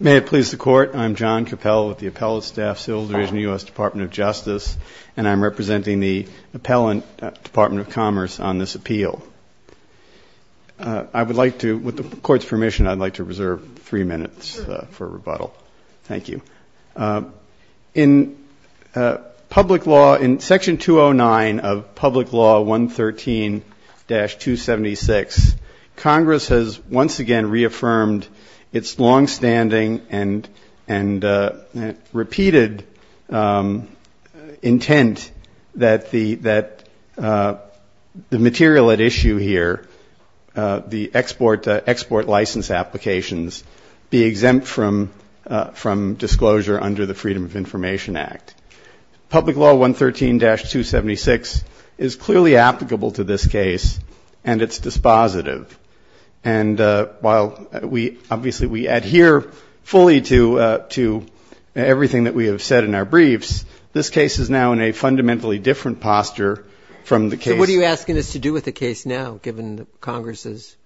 May it please the Court, I'm John Cappell with the Appellate Staff Civil Division, U.S. Department of Justice, and I'm representing the Appellant Department of Commerce on this appeal. I would like to, with the Court's permission, I'd like to reserve three minutes for rebuttal. Thank you. In public law, in Section 209 of Public Law 113-276, Congress has once again reaffirmed its longstanding and repeated intent that the material at issue here, the export license applications, be exempt from disclosure under the Freedom of Information Act. Public Law 113-276 is clearly applicable to this case, and it's dispositive. And while we obviously we adhere fully to everything that we have said in our briefs, this case is now in a fundamentally different posture from the case. What are you asking us to do with the case now, given Congress's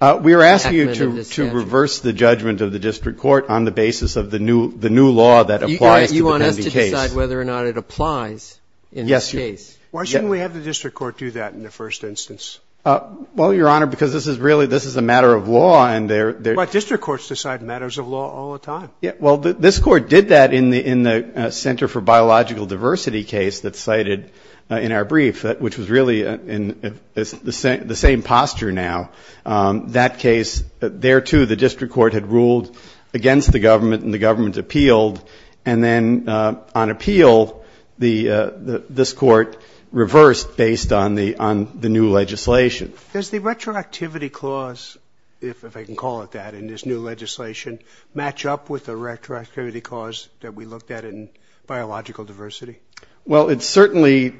acumen in this statute? We are asking you to reverse the judgment of the district court on the basis of the new law that applies to the pending case. You want us to decide whether or not it applies in this case? Yes. Why shouldn't we have the district court do that in the first instance? Well, Your Honor, because this is really, this is a matter of law, and there But district courts decide matters of law all the time. Well, this Court did that in the Center for Biological Diversity case that's cited in our brief, which was really in the same posture now. That case, there, too, the district court had ruled against the government and the government appealed. And then on appeal, this Court reversed based on the new legislation. Does the retroactivity clause, if I can call it that, in this new legislation, match up with the retroactivity clause that we looked at in biological diversity? Well, it's certainly,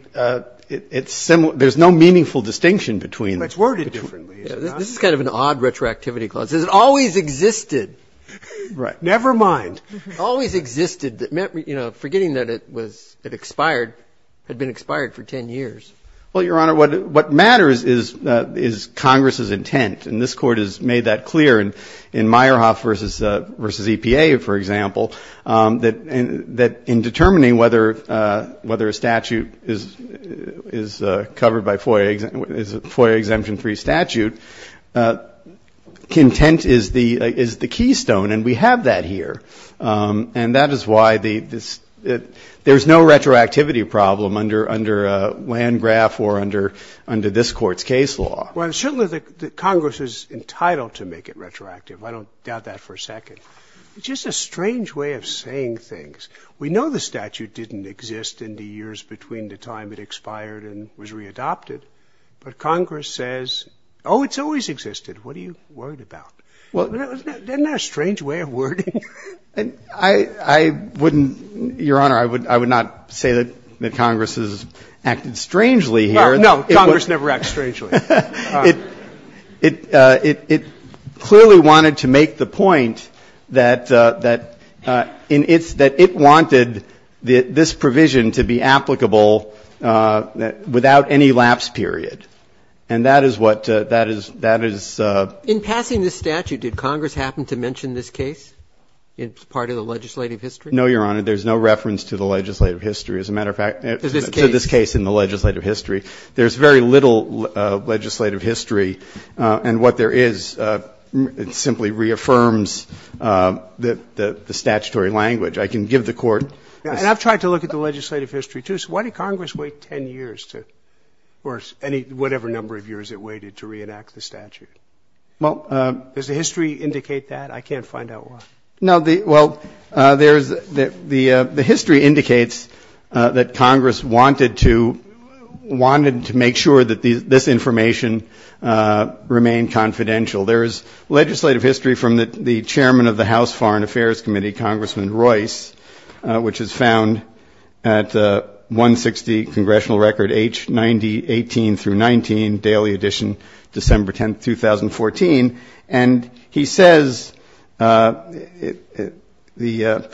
it's similar. There's no meaningful distinction between. Let's word it differently. This is kind of an odd retroactivity clause. It always existed. Right. Never mind. Always existed. You know, forgetting that it was, it expired, had been expired for 10 years. Well, Your Honor, what matters is Congress's intent. And this Court has made that clear in Meyerhoff v. EPA, for example, that in determining whether a statute is covered by FOIA, is a FOIA exemption-free statute, content is the keystone. And we have that here. And that is why there's no retroactivity problem under Landgraf or under this Court's case law. Well, certainly Congress is entitled to make it retroactive. I don't doubt that for a second. It's just a strange way of saying things. We know the statute didn't exist in the years between the time it expired and was readopted. But Congress says, oh, it's always existed. What are you worried about? Isn't that a strange way of wording it? I wouldn't, Your Honor, I would not say that Congress has acted strangely here. No, Congress never acted strangely. It clearly wanted to make the point that it wanted this provision to be applicable without any lapse period. And that is what that is. In passing this statute, did Congress happen to mention this case as part of the legislative history? No, Your Honor. There's no reference to the legislative history. As a matter of fact, to this case in the legislative history, there's very little legislative history. And what there is, it simply reaffirms the statutory language. I can give the Court this. And I've tried to look at the legislative history, too. So why did Congress wait 10 years to or whatever number of years it waited to reenact the statute? Does the history indicate that? I can't find out why. No, well, the history indicates that Congress wanted to make sure that this information remained confidential. There is legislative history from the chairman of the House Foreign Affairs Committee, Congressman Royce, which is found at 160, Congressional Record H9018-19, Daily Edition, December 10, 2014. And he says, finally, the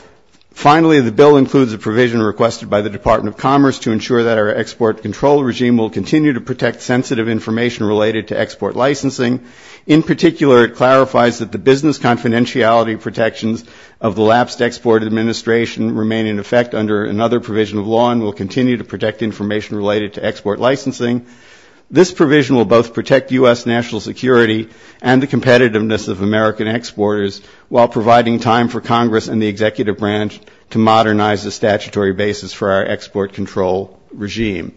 bill includes a provision requested by the Department of Commerce to ensure that our export control regime will continue to protect sensitive information related to export licensing. In particular, it clarifies that the business confidentiality protections of the lapsed Export Administration remain in effect under another provision of law and will continue to protect information related to export licensing. This provision will both protect U.S. national security and the competitiveness of American exporters while providing time for Congress and the executive branch to modernize the statutory basis for our export control regime.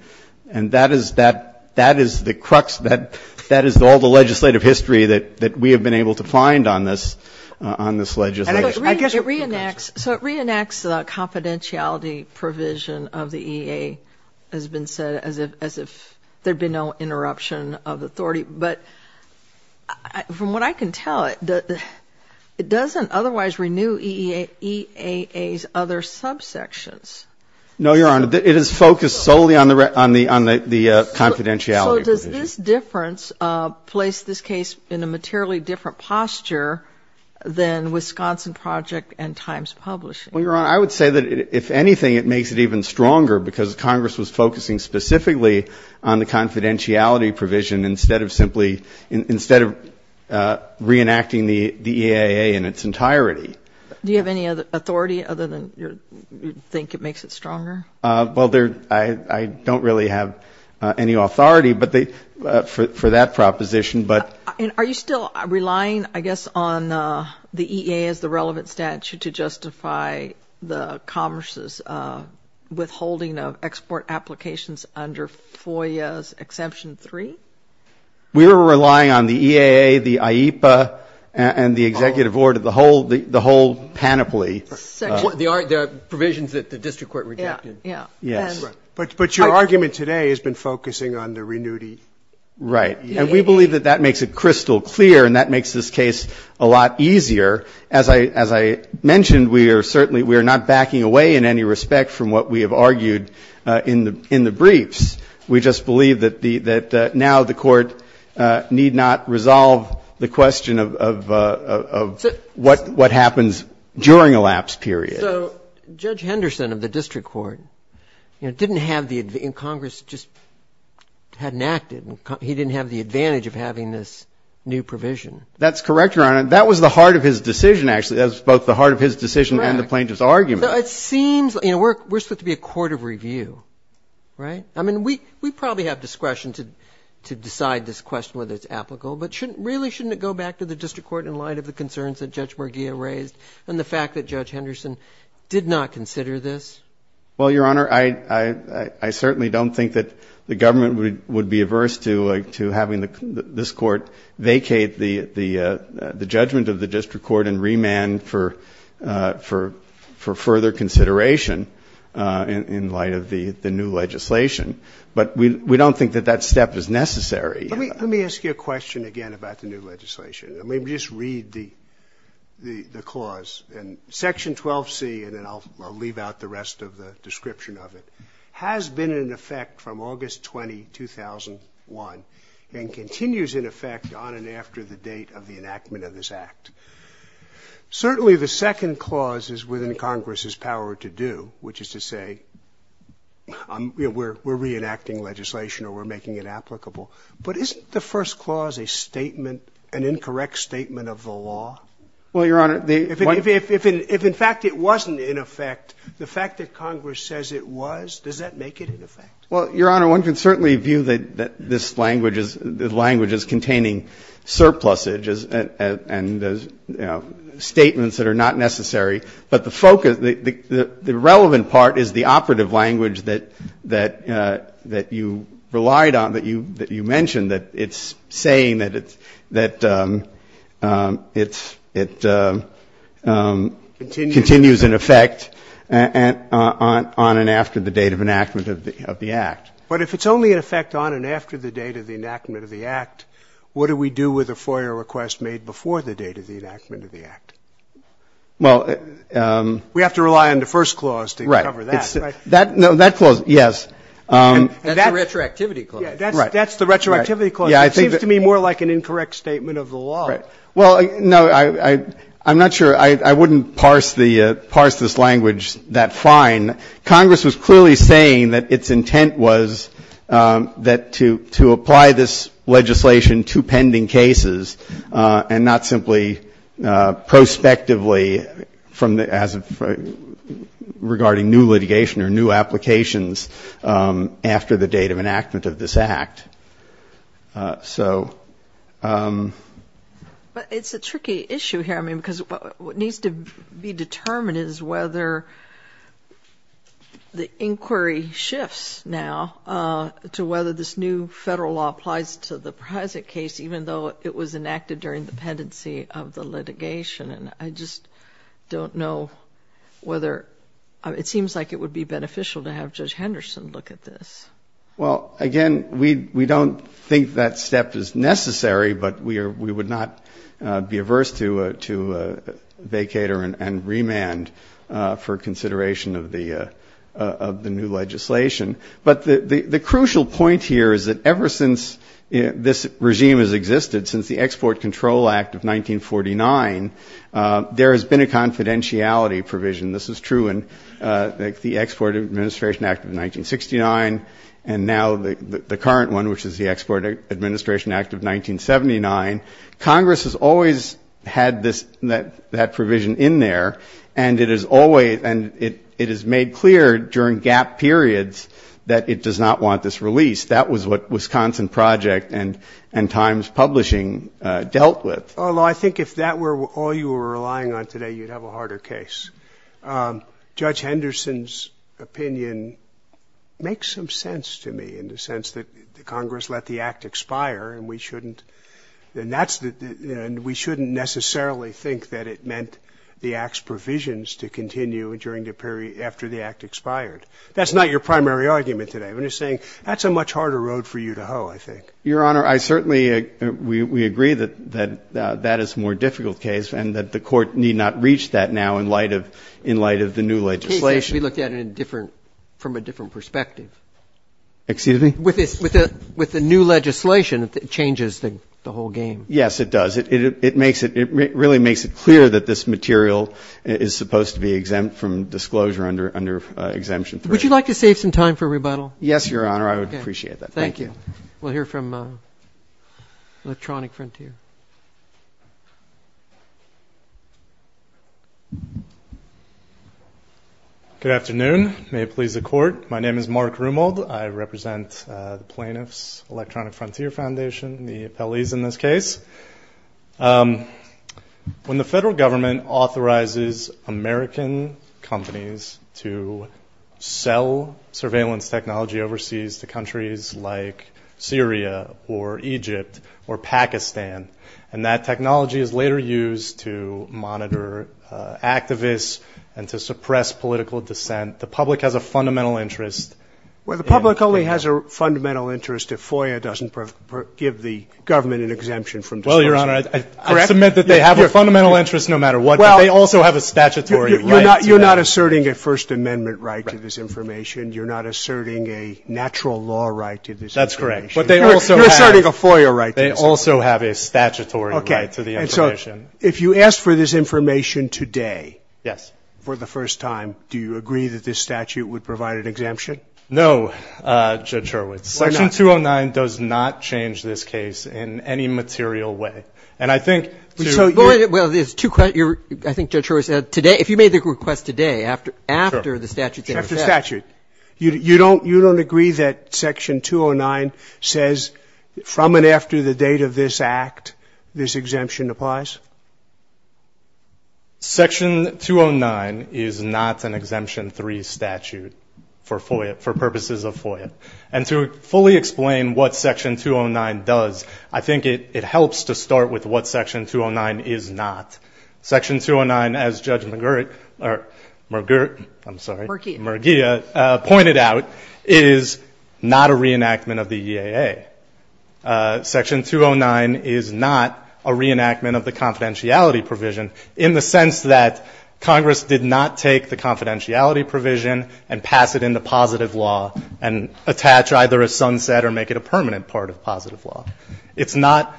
And that is the crux, that is all the legislative history that we have been able to find on this legislation. So it reenacts the confidentiality provision of the EAA, as has been said, as if there had been no interruption of authority. But from what I can tell, it doesn't otherwise renew EAA's other subsections. No, Your Honor. So does this difference place this case in a materially different posture than Wisconsin Project and Times Publishing? Well, Your Honor, I would say that, if anything, it makes it even stronger because Congress was focusing specifically on the confidentiality provision instead of simply, instead of reenacting the EAA in its entirety. Do you have any authority other than you think it makes it stronger? Well, I don't really have any authority for that proposition. Are you still relying, I guess, on the EAA as the relevant statute to justify the Commerce's withholding of export applications under FOIA's Exemption 3? We are relying on the EAA, the IEPA, and the executive board, the whole panoply. There are provisions that the district court rejected. Yes. But your argument today has been focusing on the renewed EAA. Right. And we believe that that makes it crystal clear and that makes this case a lot easier. As I mentioned, we are certainly, we are not backing away in any respect from what we have argued in the briefs. We just believe that now the Court need not resolve the question of what happens during a lapse period. So Judge Henderson of the district court, you know, didn't have the, and Congress just hadn't acted. He didn't have the advantage of having this new provision. That's correct, Your Honor. That was the heart of his decision, actually. That was both the heart of his decision and the plaintiff's argument. Right. So it seems, you know, we're supposed to be a court of review, right? I mean, we probably have discretion to decide this question, whether it's applicable, but really shouldn't it go back to the district court in light of the concerns that Judge Henderson did not consider this? Well, Your Honor, I certainly don't think that the government would be averse to having this Court vacate the judgment of the district court and remand for further consideration in light of the new legislation. But we don't think that that step is necessary. Let me ask you a question again about the new legislation. Let me just read the clause. And Section 12C, and then I'll leave out the rest of the description of it, has been in effect from August 20, 2001, and continues in effect on and after the date of the enactment of this Act. Certainly the second clause is within Congress's power to do, which is to say we're reenacting legislation or we're making it applicable. But isn't the first clause a statement, an incorrect statement of the law? Well, Your Honor, the one ---- If in fact it wasn't in effect, the fact that Congress says it was, does that make it in effect? Well, Your Honor, one can certainly view that this language is containing surpluses and, you know, statements that are not necessary. But the focus, the relevant part is the operative language that you relied on, that you mentioned, that it's saying that it's ---- Continues in effect. Continues in effect on and after the date of enactment of the Act. But if it's only in effect on and after the date of the enactment of the Act, what do we do with a FOIA request made before the date of the enactment of the Act? Well ---- We have to rely on the first clause to cover that. Right. No, that clause, yes. That's the retroactivity clause. Right. That's the retroactivity clause. It seems to me more like an incorrect statement of the law. Right. Well, no, I'm not sure ---- I wouldn't parse the ---- parse this language that fine. Congress was clearly saying that its intent was that to apply this legislation to pending cases and not simply prospectively from the ---- after the date of enactment of this Act. So ---- But it's a tricky issue here, I mean, because what needs to be determined is whether the inquiry shifts now to whether this new federal law applies to the present case, even though it was enacted during the pendency of the litigation. And I just don't know whether ---- it seems like it would be beneficial to have Judge Henderson look at this. Well, again, we don't think that step is necessary, but we would not be averse to vacater and remand for consideration of the new legislation. But the crucial point here is that ever since this regime has existed, since the Export Control Act of 1949, there has been a confidentiality provision. This is true in the Export Administration Act of 1969, and now the current one, which is the Export Administration Act of 1979. Congress has always had this ---- that provision in there, and it has always ---- and it has made clear during gap periods that it does not want this released. That was what Wisconsin Project and Times Publishing dealt with. Although I think if that were all you were relying on today, you'd have a harder case. Judge Henderson's opinion makes some sense to me in the sense that Congress let the Act expire and we shouldn't necessarily think that it meant the Act's provisions to continue during the period after the Act expired. That's not your primary argument today. I'm just saying that's a much harder road for you to hoe, I think. Your Honor, I certainly ---- we agree that that is a more difficult case and that the Court need not reach that now in light of the new legislation. The case may be looked at in a different ---- from a different perspective. Excuse me? With the new legislation, it changes the whole game. Yes, it does. It makes it ---- it really makes it clear that this material is supposed to be exempt from disclosure under Exemption 3. Would you like to save some time for rebuttal? Yes, Your Honor. I would appreciate that. Thank you. We'll hear from Electronic Frontier. Good afternoon. May it please the Court, my name is Mark Rumold. I represent the Plaintiffs Electronic Frontier Foundation, the appellees in this case. When the federal government authorizes American companies to sell surveillance technology overseas to countries like Syria or Egypt or Pakistan, and that technology is later used to monitor activists and to suppress political dissent, the public has a fundamental interest in ---- Well, the public only has a fundamental interest if FOIA doesn't give the government an exemption from disclosure. Well, Your Honor, I submit that they have a fundamental interest no matter what, but they also have a statutory right to that. You're not asserting a First Amendment right to this information. You're not asserting a natural law right to this information. That's correct. But they also have ---- You're asserting a FOIA right to this information. They also have a statutory right to the information. Okay. And so if you ask for this information today ---- Yes. ---- for the first time, do you agree that this statute would provide an exemption? No, Judge Hurwitz. Why not? Section 209 does not change this case in any material way. And I think to ---- Well, there's two questions. I think Judge Hurwitz, if you made the request today, after the statute ---- Sure. After the statute. You don't agree that Section 209 says from and after the date of this Act this exemption applies? Section 209 is not an Exemption 3 statute for FOIA, for purposes of FOIA. And to fully explain what Section 209 does, I think it helps to start with what Section 209 is not. Section 209, as Judge McGirt or McGirt, I'm sorry. McGirt. McGirt pointed out, is not a reenactment of the EAA. Section 209 is not a reenactment of the confidentiality provision in the sense that Congress did not take the confidentiality provision and pass it into positive law and attach either a sunset or make it a permanent part of positive law. It's not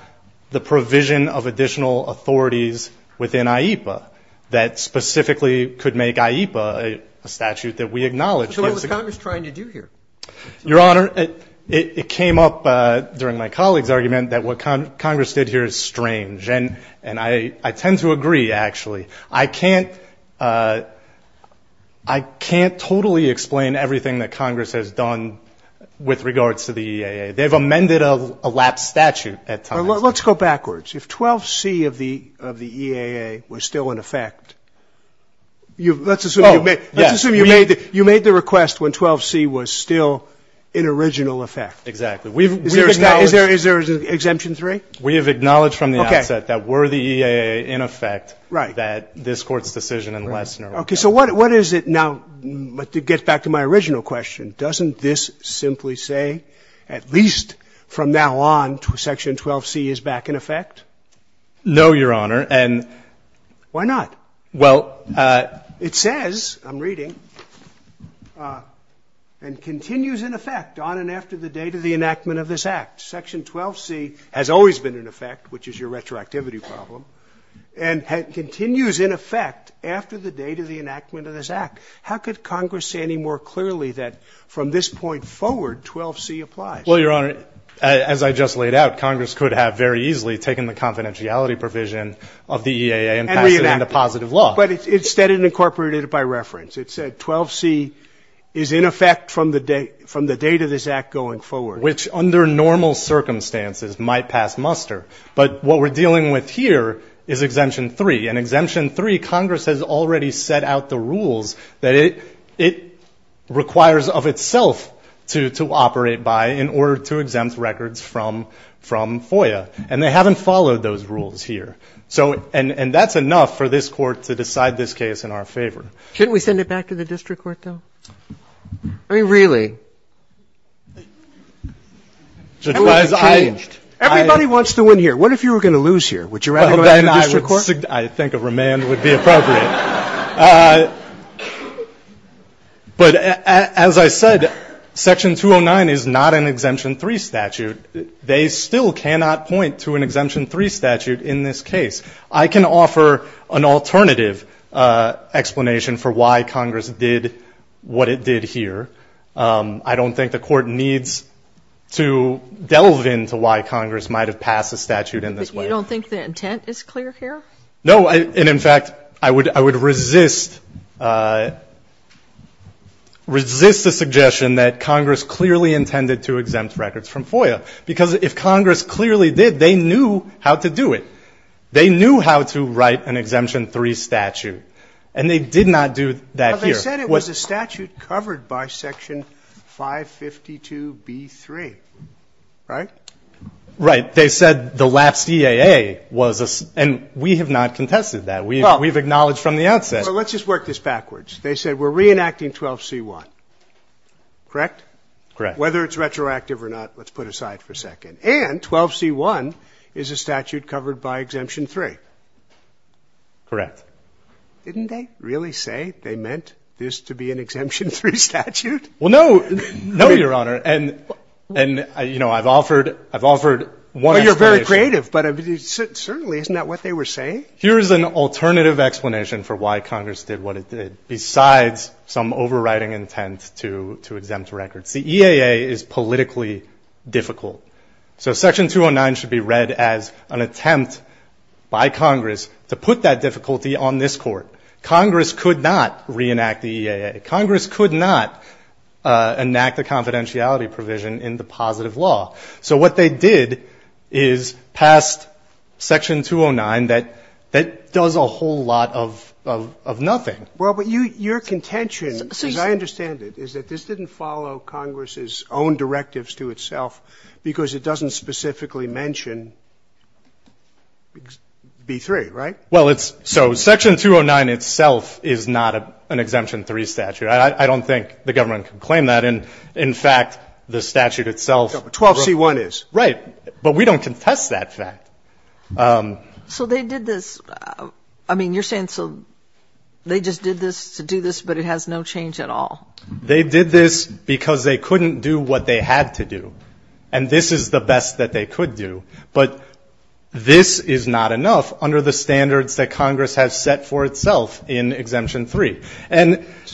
the provision of additional authorities within IEPA that specifically could make IEPA a statute that we acknowledge. So what was Congress trying to do here? Your Honor, it came up during my colleague's argument that what Congress did here is strange. And I tend to agree, actually. I can't totally explain everything that Congress has done with regards to the EAA. They've amended a lapsed statute at times. Let's go backwards. If 12C of the EAA was still in effect, let's assume you made the request when 12C was still in original effect. Exactly. Is there an exemption 3? We have acknowledged from the outset that were the EAA in effect, that this Court's decision in Lessner would be. Okay. So what is it now, to get back to my original question, doesn't this simply say at least from now on Section 12C is back in effect? No, Your Honor. Why not? Well, it says, I'm reading, and continues in effect on and after the date of the enactment of this Act. Section 12C has always been in effect, which is your retroactivity problem, and continues in effect after the date of the enactment of this Act. How could Congress say any more clearly that from this point forward 12C applies? Well, Your Honor, as I just laid out, Congress could have very easily taken the confidentiality provision of the EAA and passed it into positive law. But instead it incorporated it by reference. It said 12C is in effect from the date of this Act going forward. Which under normal circumstances might pass muster. But what we're dealing with here is Exemption 3. Congress has already set out the rules that it requires of itself to operate by in order to exempt records from FOIA. And they haven't followed those rules here. And that's enough for this Court to decide this case in our favor. Shouldn't we send it back to the district court, though? I mean, really? Everybody wants to win here. What if you were going to lose here? Would you rather go back to the district court? I think a remand would be appropriate. But as I said, Section 209 is not an Exemption 3 statute. They still cannot point to an Exemption 3 statute in this case. I can offer an alternative explanation for why Congress did what it did here. I don't think the Court needs to delve into why Congress might have passed a statute in this way. You don't think the intent is clear here? No. And, in fact, I would resist, resist the suggestion that Congress clearly intended to exempt records from FOIA. Because if Congress clearly did, they knew how to do it. They knew how to write an Exemption 3 statute. And they did not do that here. But they said it was a statute covered by Section 552b3, right? Right. And they said the lapsed EAA was a ‑‑ and we have not contested that. We have acknowledged from the outset. Well, let's just work this backwards. They said we're reenacting 12c1, correct? Correct. Whether it's retroactive or not, let's put aside for a second. And 12c1 is a statute covered by Exemption 3. Correct. Didn't they really say they meant this to be an Exemption 3 statute? Well, no. No, Your Honor. And, you know, I've offered one explanation. Well, you're very creative. But certainly isn't that what they were saying? Here's an alternative explanation for why Congress did what it did, besides some overriding intent to exempt records. The EAA is politically difficult. So Section 209 should be read as an attempt by Congress to put that difficulty on this Court. Congress could not reenact the EAA. Congress could not enact the confidentiality provision in the positive law. So what they did is passed Section 209 that does a whole lot of nothing. Well, but your contention, as I understand it, is that this didn't follow Congress's own directives to itself because it doesn't specifically mention B3, right? Well, it's so Section 209 itself is not an Exemption 3 statute. I don't think the government can claim that. And, in fact, the statute itself. 12C1 is. Right. But we don't contest that fact. So they did this. I mean, you're saying so they just did this to do this, but it has no change at all? They did this because they couldn't do what they had to do. And this is the best that they could do. But this is not enough under the standards that Congress has set for itself in Exemption 3.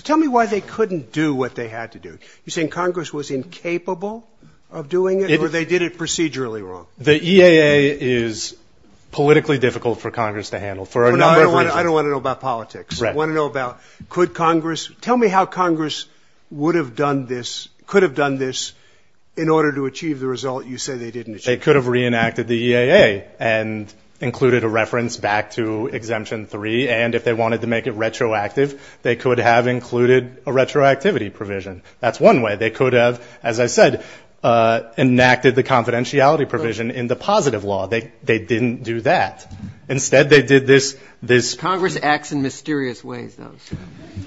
Tell me why they couldn't do what they had to do. You're saying Congress was incapable of doing it, or they did it procedurally wrong? The EAA is politically difficult for Congress to handle for a number of reasons. I don't want to know about politics. I want to know about could Congress. Tell me how Congress would have done this, could have done this, in order to achieve the result you say they didn't achieve. They could have reenacted the EAA and included a reference back to Exemption 3. And if they wanted to make it retroactive, they could have included a retroactivity provision. That's one way. They could have, as I said, enacted the confidentiality provision in the positive law. They didn't do that. Instead, they did this. Congress acts in mysterious ways, though.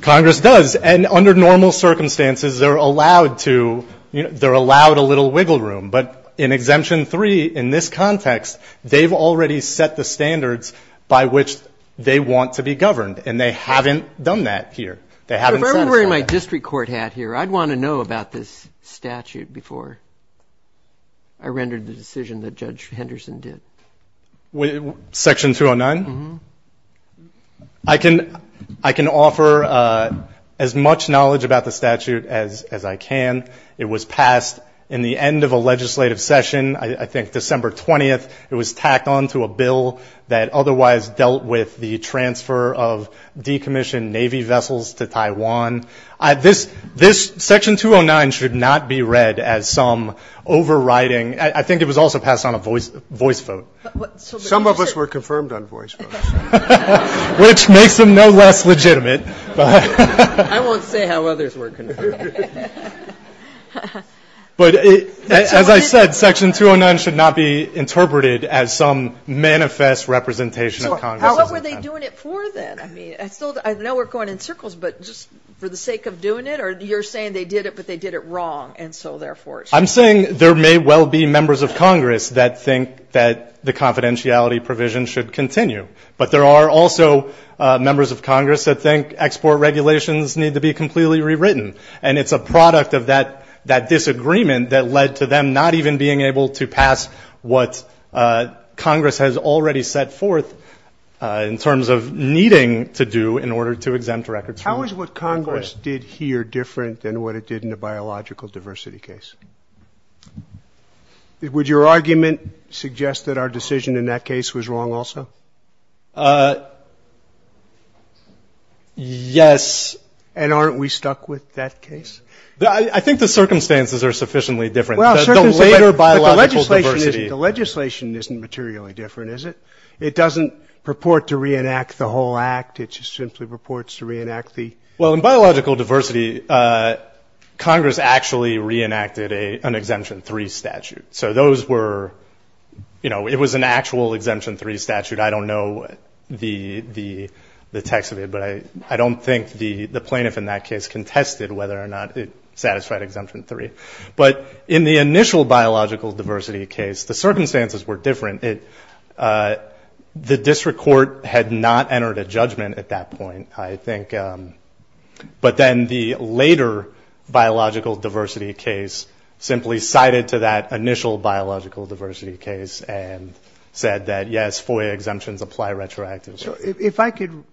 Congress does. And under normal circumstances, they're allowed a little wiggle room. But in Exemption 3, in this context, they've already set the standards by which they want to be governed. And they haven't done that here. They haven't satisfied that. If I were wearing my district court hat here, I'd want to know about this statute before I rendered the decision that Judge Henderson did. Section 209? Mm-hmm. I can offer as much knowledge about the statute as I can. It was passed in the end of a legislative session, I think December 20th. It was tacked on to a bill that otherwise dealt with the transfer of decommissioned Navy vessels to Taiwan. This Section 209 should not be read as some overriding. I think it was also passed on a voice vote. Some of us were confirmed on voice votes. Which makes them no less legitimate. I won't say how others were confirmed. But as I said, Section 209 should not be interpreted as some manifest representation of Congress. So what were they doing it for then? I know we're going in circles, but just for the sake of doing it? Or you're saying they did it, but they did it wrong, and so therefore it should be? I'm saying there may well be members of Congress that think that the confidentiality provision should continue. But there are also members of Congress that think export regulations need to be completely rewritten. And it's a product of that disagreement that led to them not even being able to pass what Congress has already set forth in terms of needing to do in order to exempt records. How is what Congress did here different than what it did in the biological diversity case? Would your argument suggest that our decision in that case was wrong also? Yes. And aren't we stuck with that case? I think the circumstances are sufficiently different. The later biological diversity. But the legislation isn't materially different, is it? It doesn't purport to reenact the whole act. It just simply purports to reenact the. Well, in biological diversity, Congress actually reenacted an exemption three statute. So those were, you know, it was an actual exemption three statute. I don't know the text of it. But I don't think the plaintiff in that case contested whether or not it satisfied exemption three. But in the initial biological diversity case, the circumstances were different. The district court had not entered a judgment at that point. I think. But then the later biological diversity case simply cited to that initial biological diversity case and said that, yes, FOIA exemptions apply retroactively. So if I could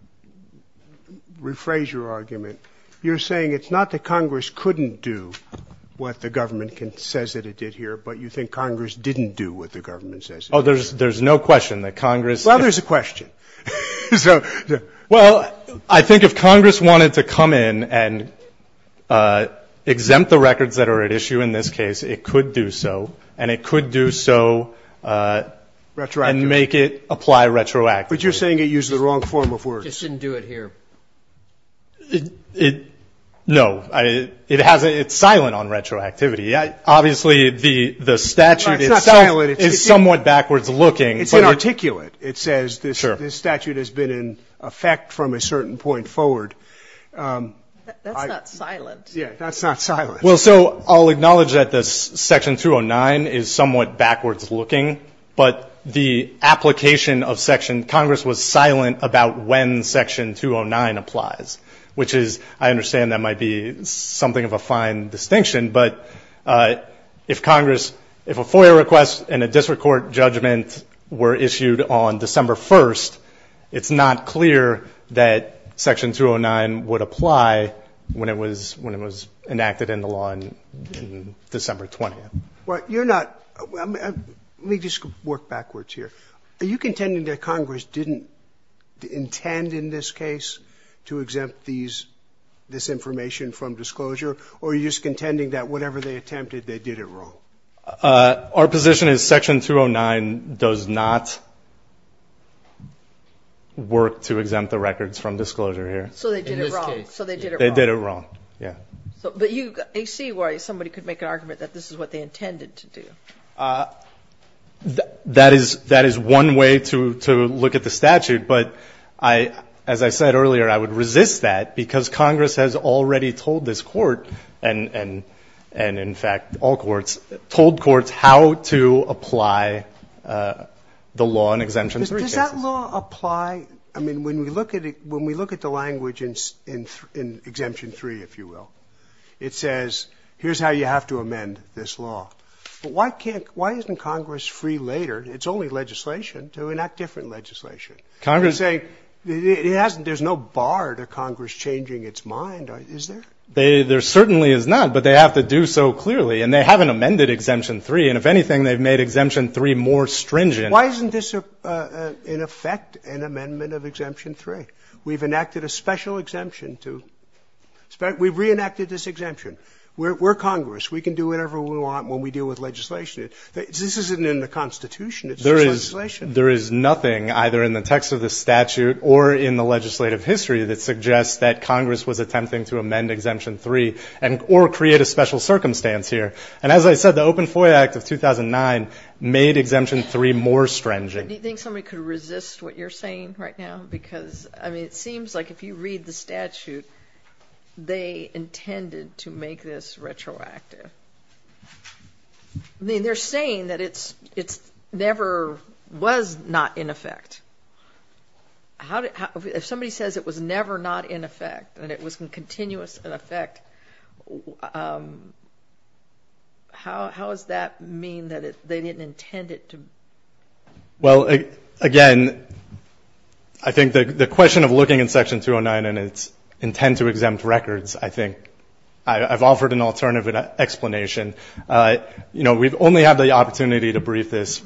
rephrase your argument, you're saying it's not that Congress couldn't do what the government says that it did here, but you think Congress didn't do what the government says. Oh, there's no question that Congress. Well, there's a question. Well, I think if Congress wanted to come in and exempt the records that are at issue in this case, it could do so. And it could do so and make it apply retroactively. But you're saying it uses the wrong form of words. It just didn't do it here. No. It's silent on retroactivity. Obviously, the statute itself is somewhat backwards looking. It's inarticulate. It says this statute has been in effect from a certain point forward. That's not silent. Yeah, that's not silent. Well, so I'll acknowledge that this section 209 is somewhat backwards looking. But the application of section, Congress was silent about when section 209 applies, which is, I understand that might be something of a fine distinction. But if Congress, if a FOIA request and a district court judgment were issued on December 1st, it's not clear that section 209 would apply when it was enacted in the law on December 20th. Well, you're not, let me just work backwards here. Are you contending that Congress didn't intend in this case to exempt these, this information from disclosure? Or are you just contending that whatever they attempted, they did it wrong? Our position is section 209 does not work to exempt the records from disclosure here. So they did it wrong. They did it wrong. Yeah. But you see why somebody could make an argument that this is what they intended to do. That is one way to look at the statute. But as I said earlier, I would resist that because Congress has already told this court, and in fact all courts, told courts how to apply the law in exemption three cases. Does that law apply, I mean, when we look at it, when we look at the language in exemption three, if you will, it says here's how you have to amend this law. But why can't, why isn't Congress free later? It's only legislation to enact different legislation. Congress. There's no bar to Congress changing its mind, is there? There certainly is not. But they have to do so clearly. And they haven't amended exemption three. And if anything, they've made exemption three more stringent. Why isn't this in effect an amendment of exemption three? We've enacted a special exemption to, we've reenacted this exemption. We're Congress. We can do whatever we want when we deal with legislation. This isn't in the Constitution. It's just legislation. There is nothing either in the text of the statute or in the legislative history that suggests that Congress was attempting to amend exemption three or create a special circumstance here. And as I said, the Open FOIA Act of 2009 made exemption three more stringent. Do you think somebody could resist what you're saying right now? Because, I mean, it seems like if you read the statute, they intended to make this retroactive. I mean, they're saying that it never was not in effect. If somebody says it was never not in effect, that it was continuous in effect, how does that mean that they didn't intend it to? Well, again, I think the question of looking in Section 209 and its intent to exempt records, I think, I've offered an alternative explanation. You know, we've only had the opportunity to brief this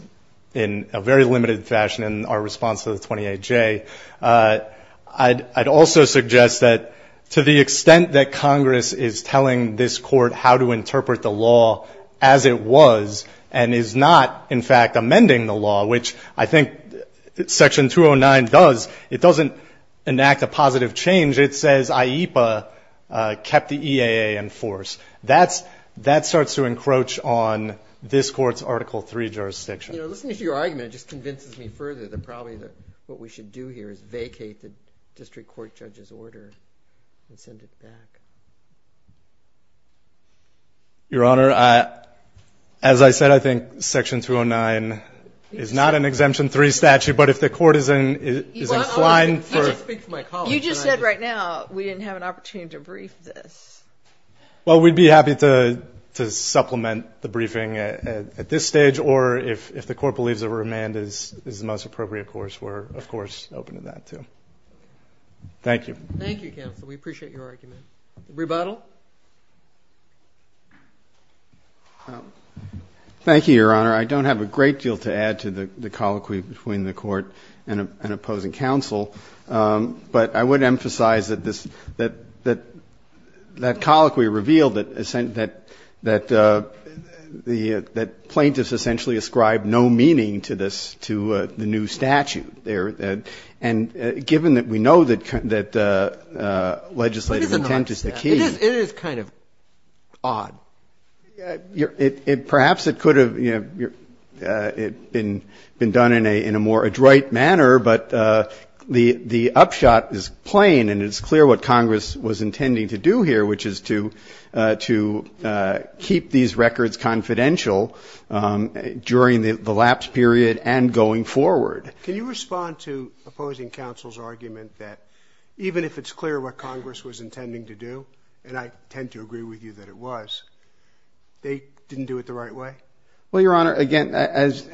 in a very limited fashion in our response to the 28J. I'd also suggest that to the extent that Congress is telling this court how to interpret the law as it was and is not, in fact, amending the law, which I think Section 209 does, it doesn't enact a positive change. It says IEPA kept the EAA in force. That starts to encroach on this court's Article III jurisdiction. You know, listening to your argument, it just convinces me further that probably what we should do here is vacate the district court judge's order and send it back. Your Honor, as I said, I think Section 209 is not an exemption three statute, but if the court is inclined for it. You just said right now we didn't have an opportunity to brief this. Well, we'd be happy to supplement the briefing at this stage, or if the court believes a remand is the most appropriate course, we're, of course, open to that, too. Thank you. Thank you, counsel. We appreciate your argument. Rebuttal. Thank you, Your Honor. I don't have a great deal to add to the colloquy between the court and the plaintiffs, but I would emphasize that colloquy revealed that plaintiffs essentially ascribed no meaning to the new statute there. And given that we know that legislative intent is the key. It is kind of odd. Perhaps it could have been done in a more adroit manner, but the upshot is plain and it's clear what Congress was intending to do here, which is to keep these records confidential during the lapse period and going forward. Can you respond to opposing counsel's argument that even if it's clear what Congress was intending to do, and I tend to agree with you that it was, they didn't do it the right way? Well, Your Honor, again, as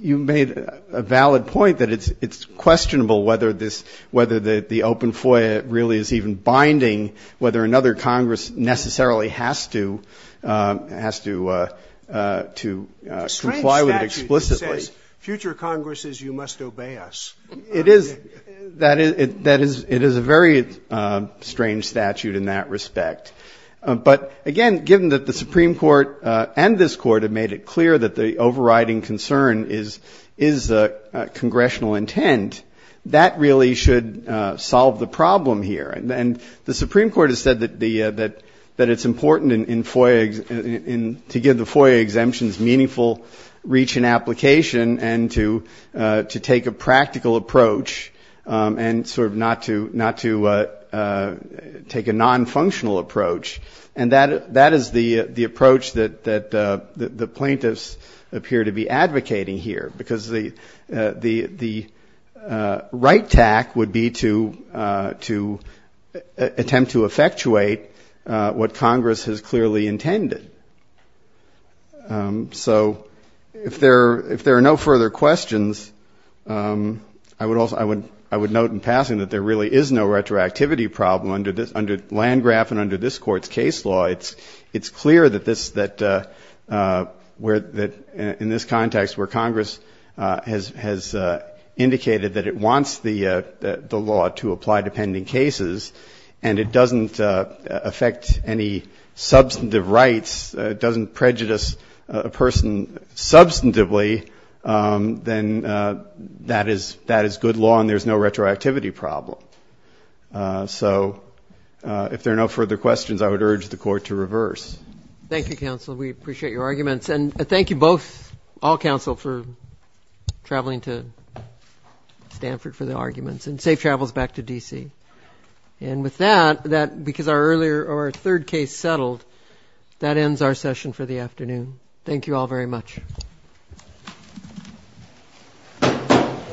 you made a valid point that it's questionable whether this, whether the open FOIA really is even binding, whether another Congress necessarily has to, has to comply with it explicitly. The strange statute says future Congresses, you must obey us. It is. That is, it is a very strange statute in that respect. But, again, given that the Supreme Court and this Court have made it clear that the overriding concern is congressional intent, that really should solve the problem here. And the Supreme Court has said that it's important in FOIA, to give the FOIA exemptions meaningful reach and application and to take a practical approach and sort of not to take a nonfunctional approach. And that is the approach that the plaintiffs appear to be advocating here. Because the right tack would be to attempt to effectuate what Congress has clearly intended. So if there are no further questions, I would note in passing that there really is no retroactivity problem under Landgraf and under this Court's case law. It's clear that in this context where Congress has indicated that it wants the law to apply to pending cases and it doesn't affect any substantive rights, it doesn't prejudice a person substantively, then that is good law and there's no retroactivity problem. So if there are no further questions, I would urge the Court to reverse. Thank you, counsel. We appreciate your arguments. And thank you both, all counsel, for traveling to Stanford for the arguments and safe travels back to D.C. And with that, because our third case settled, that ends our session for the afternoon. Thank you all very much.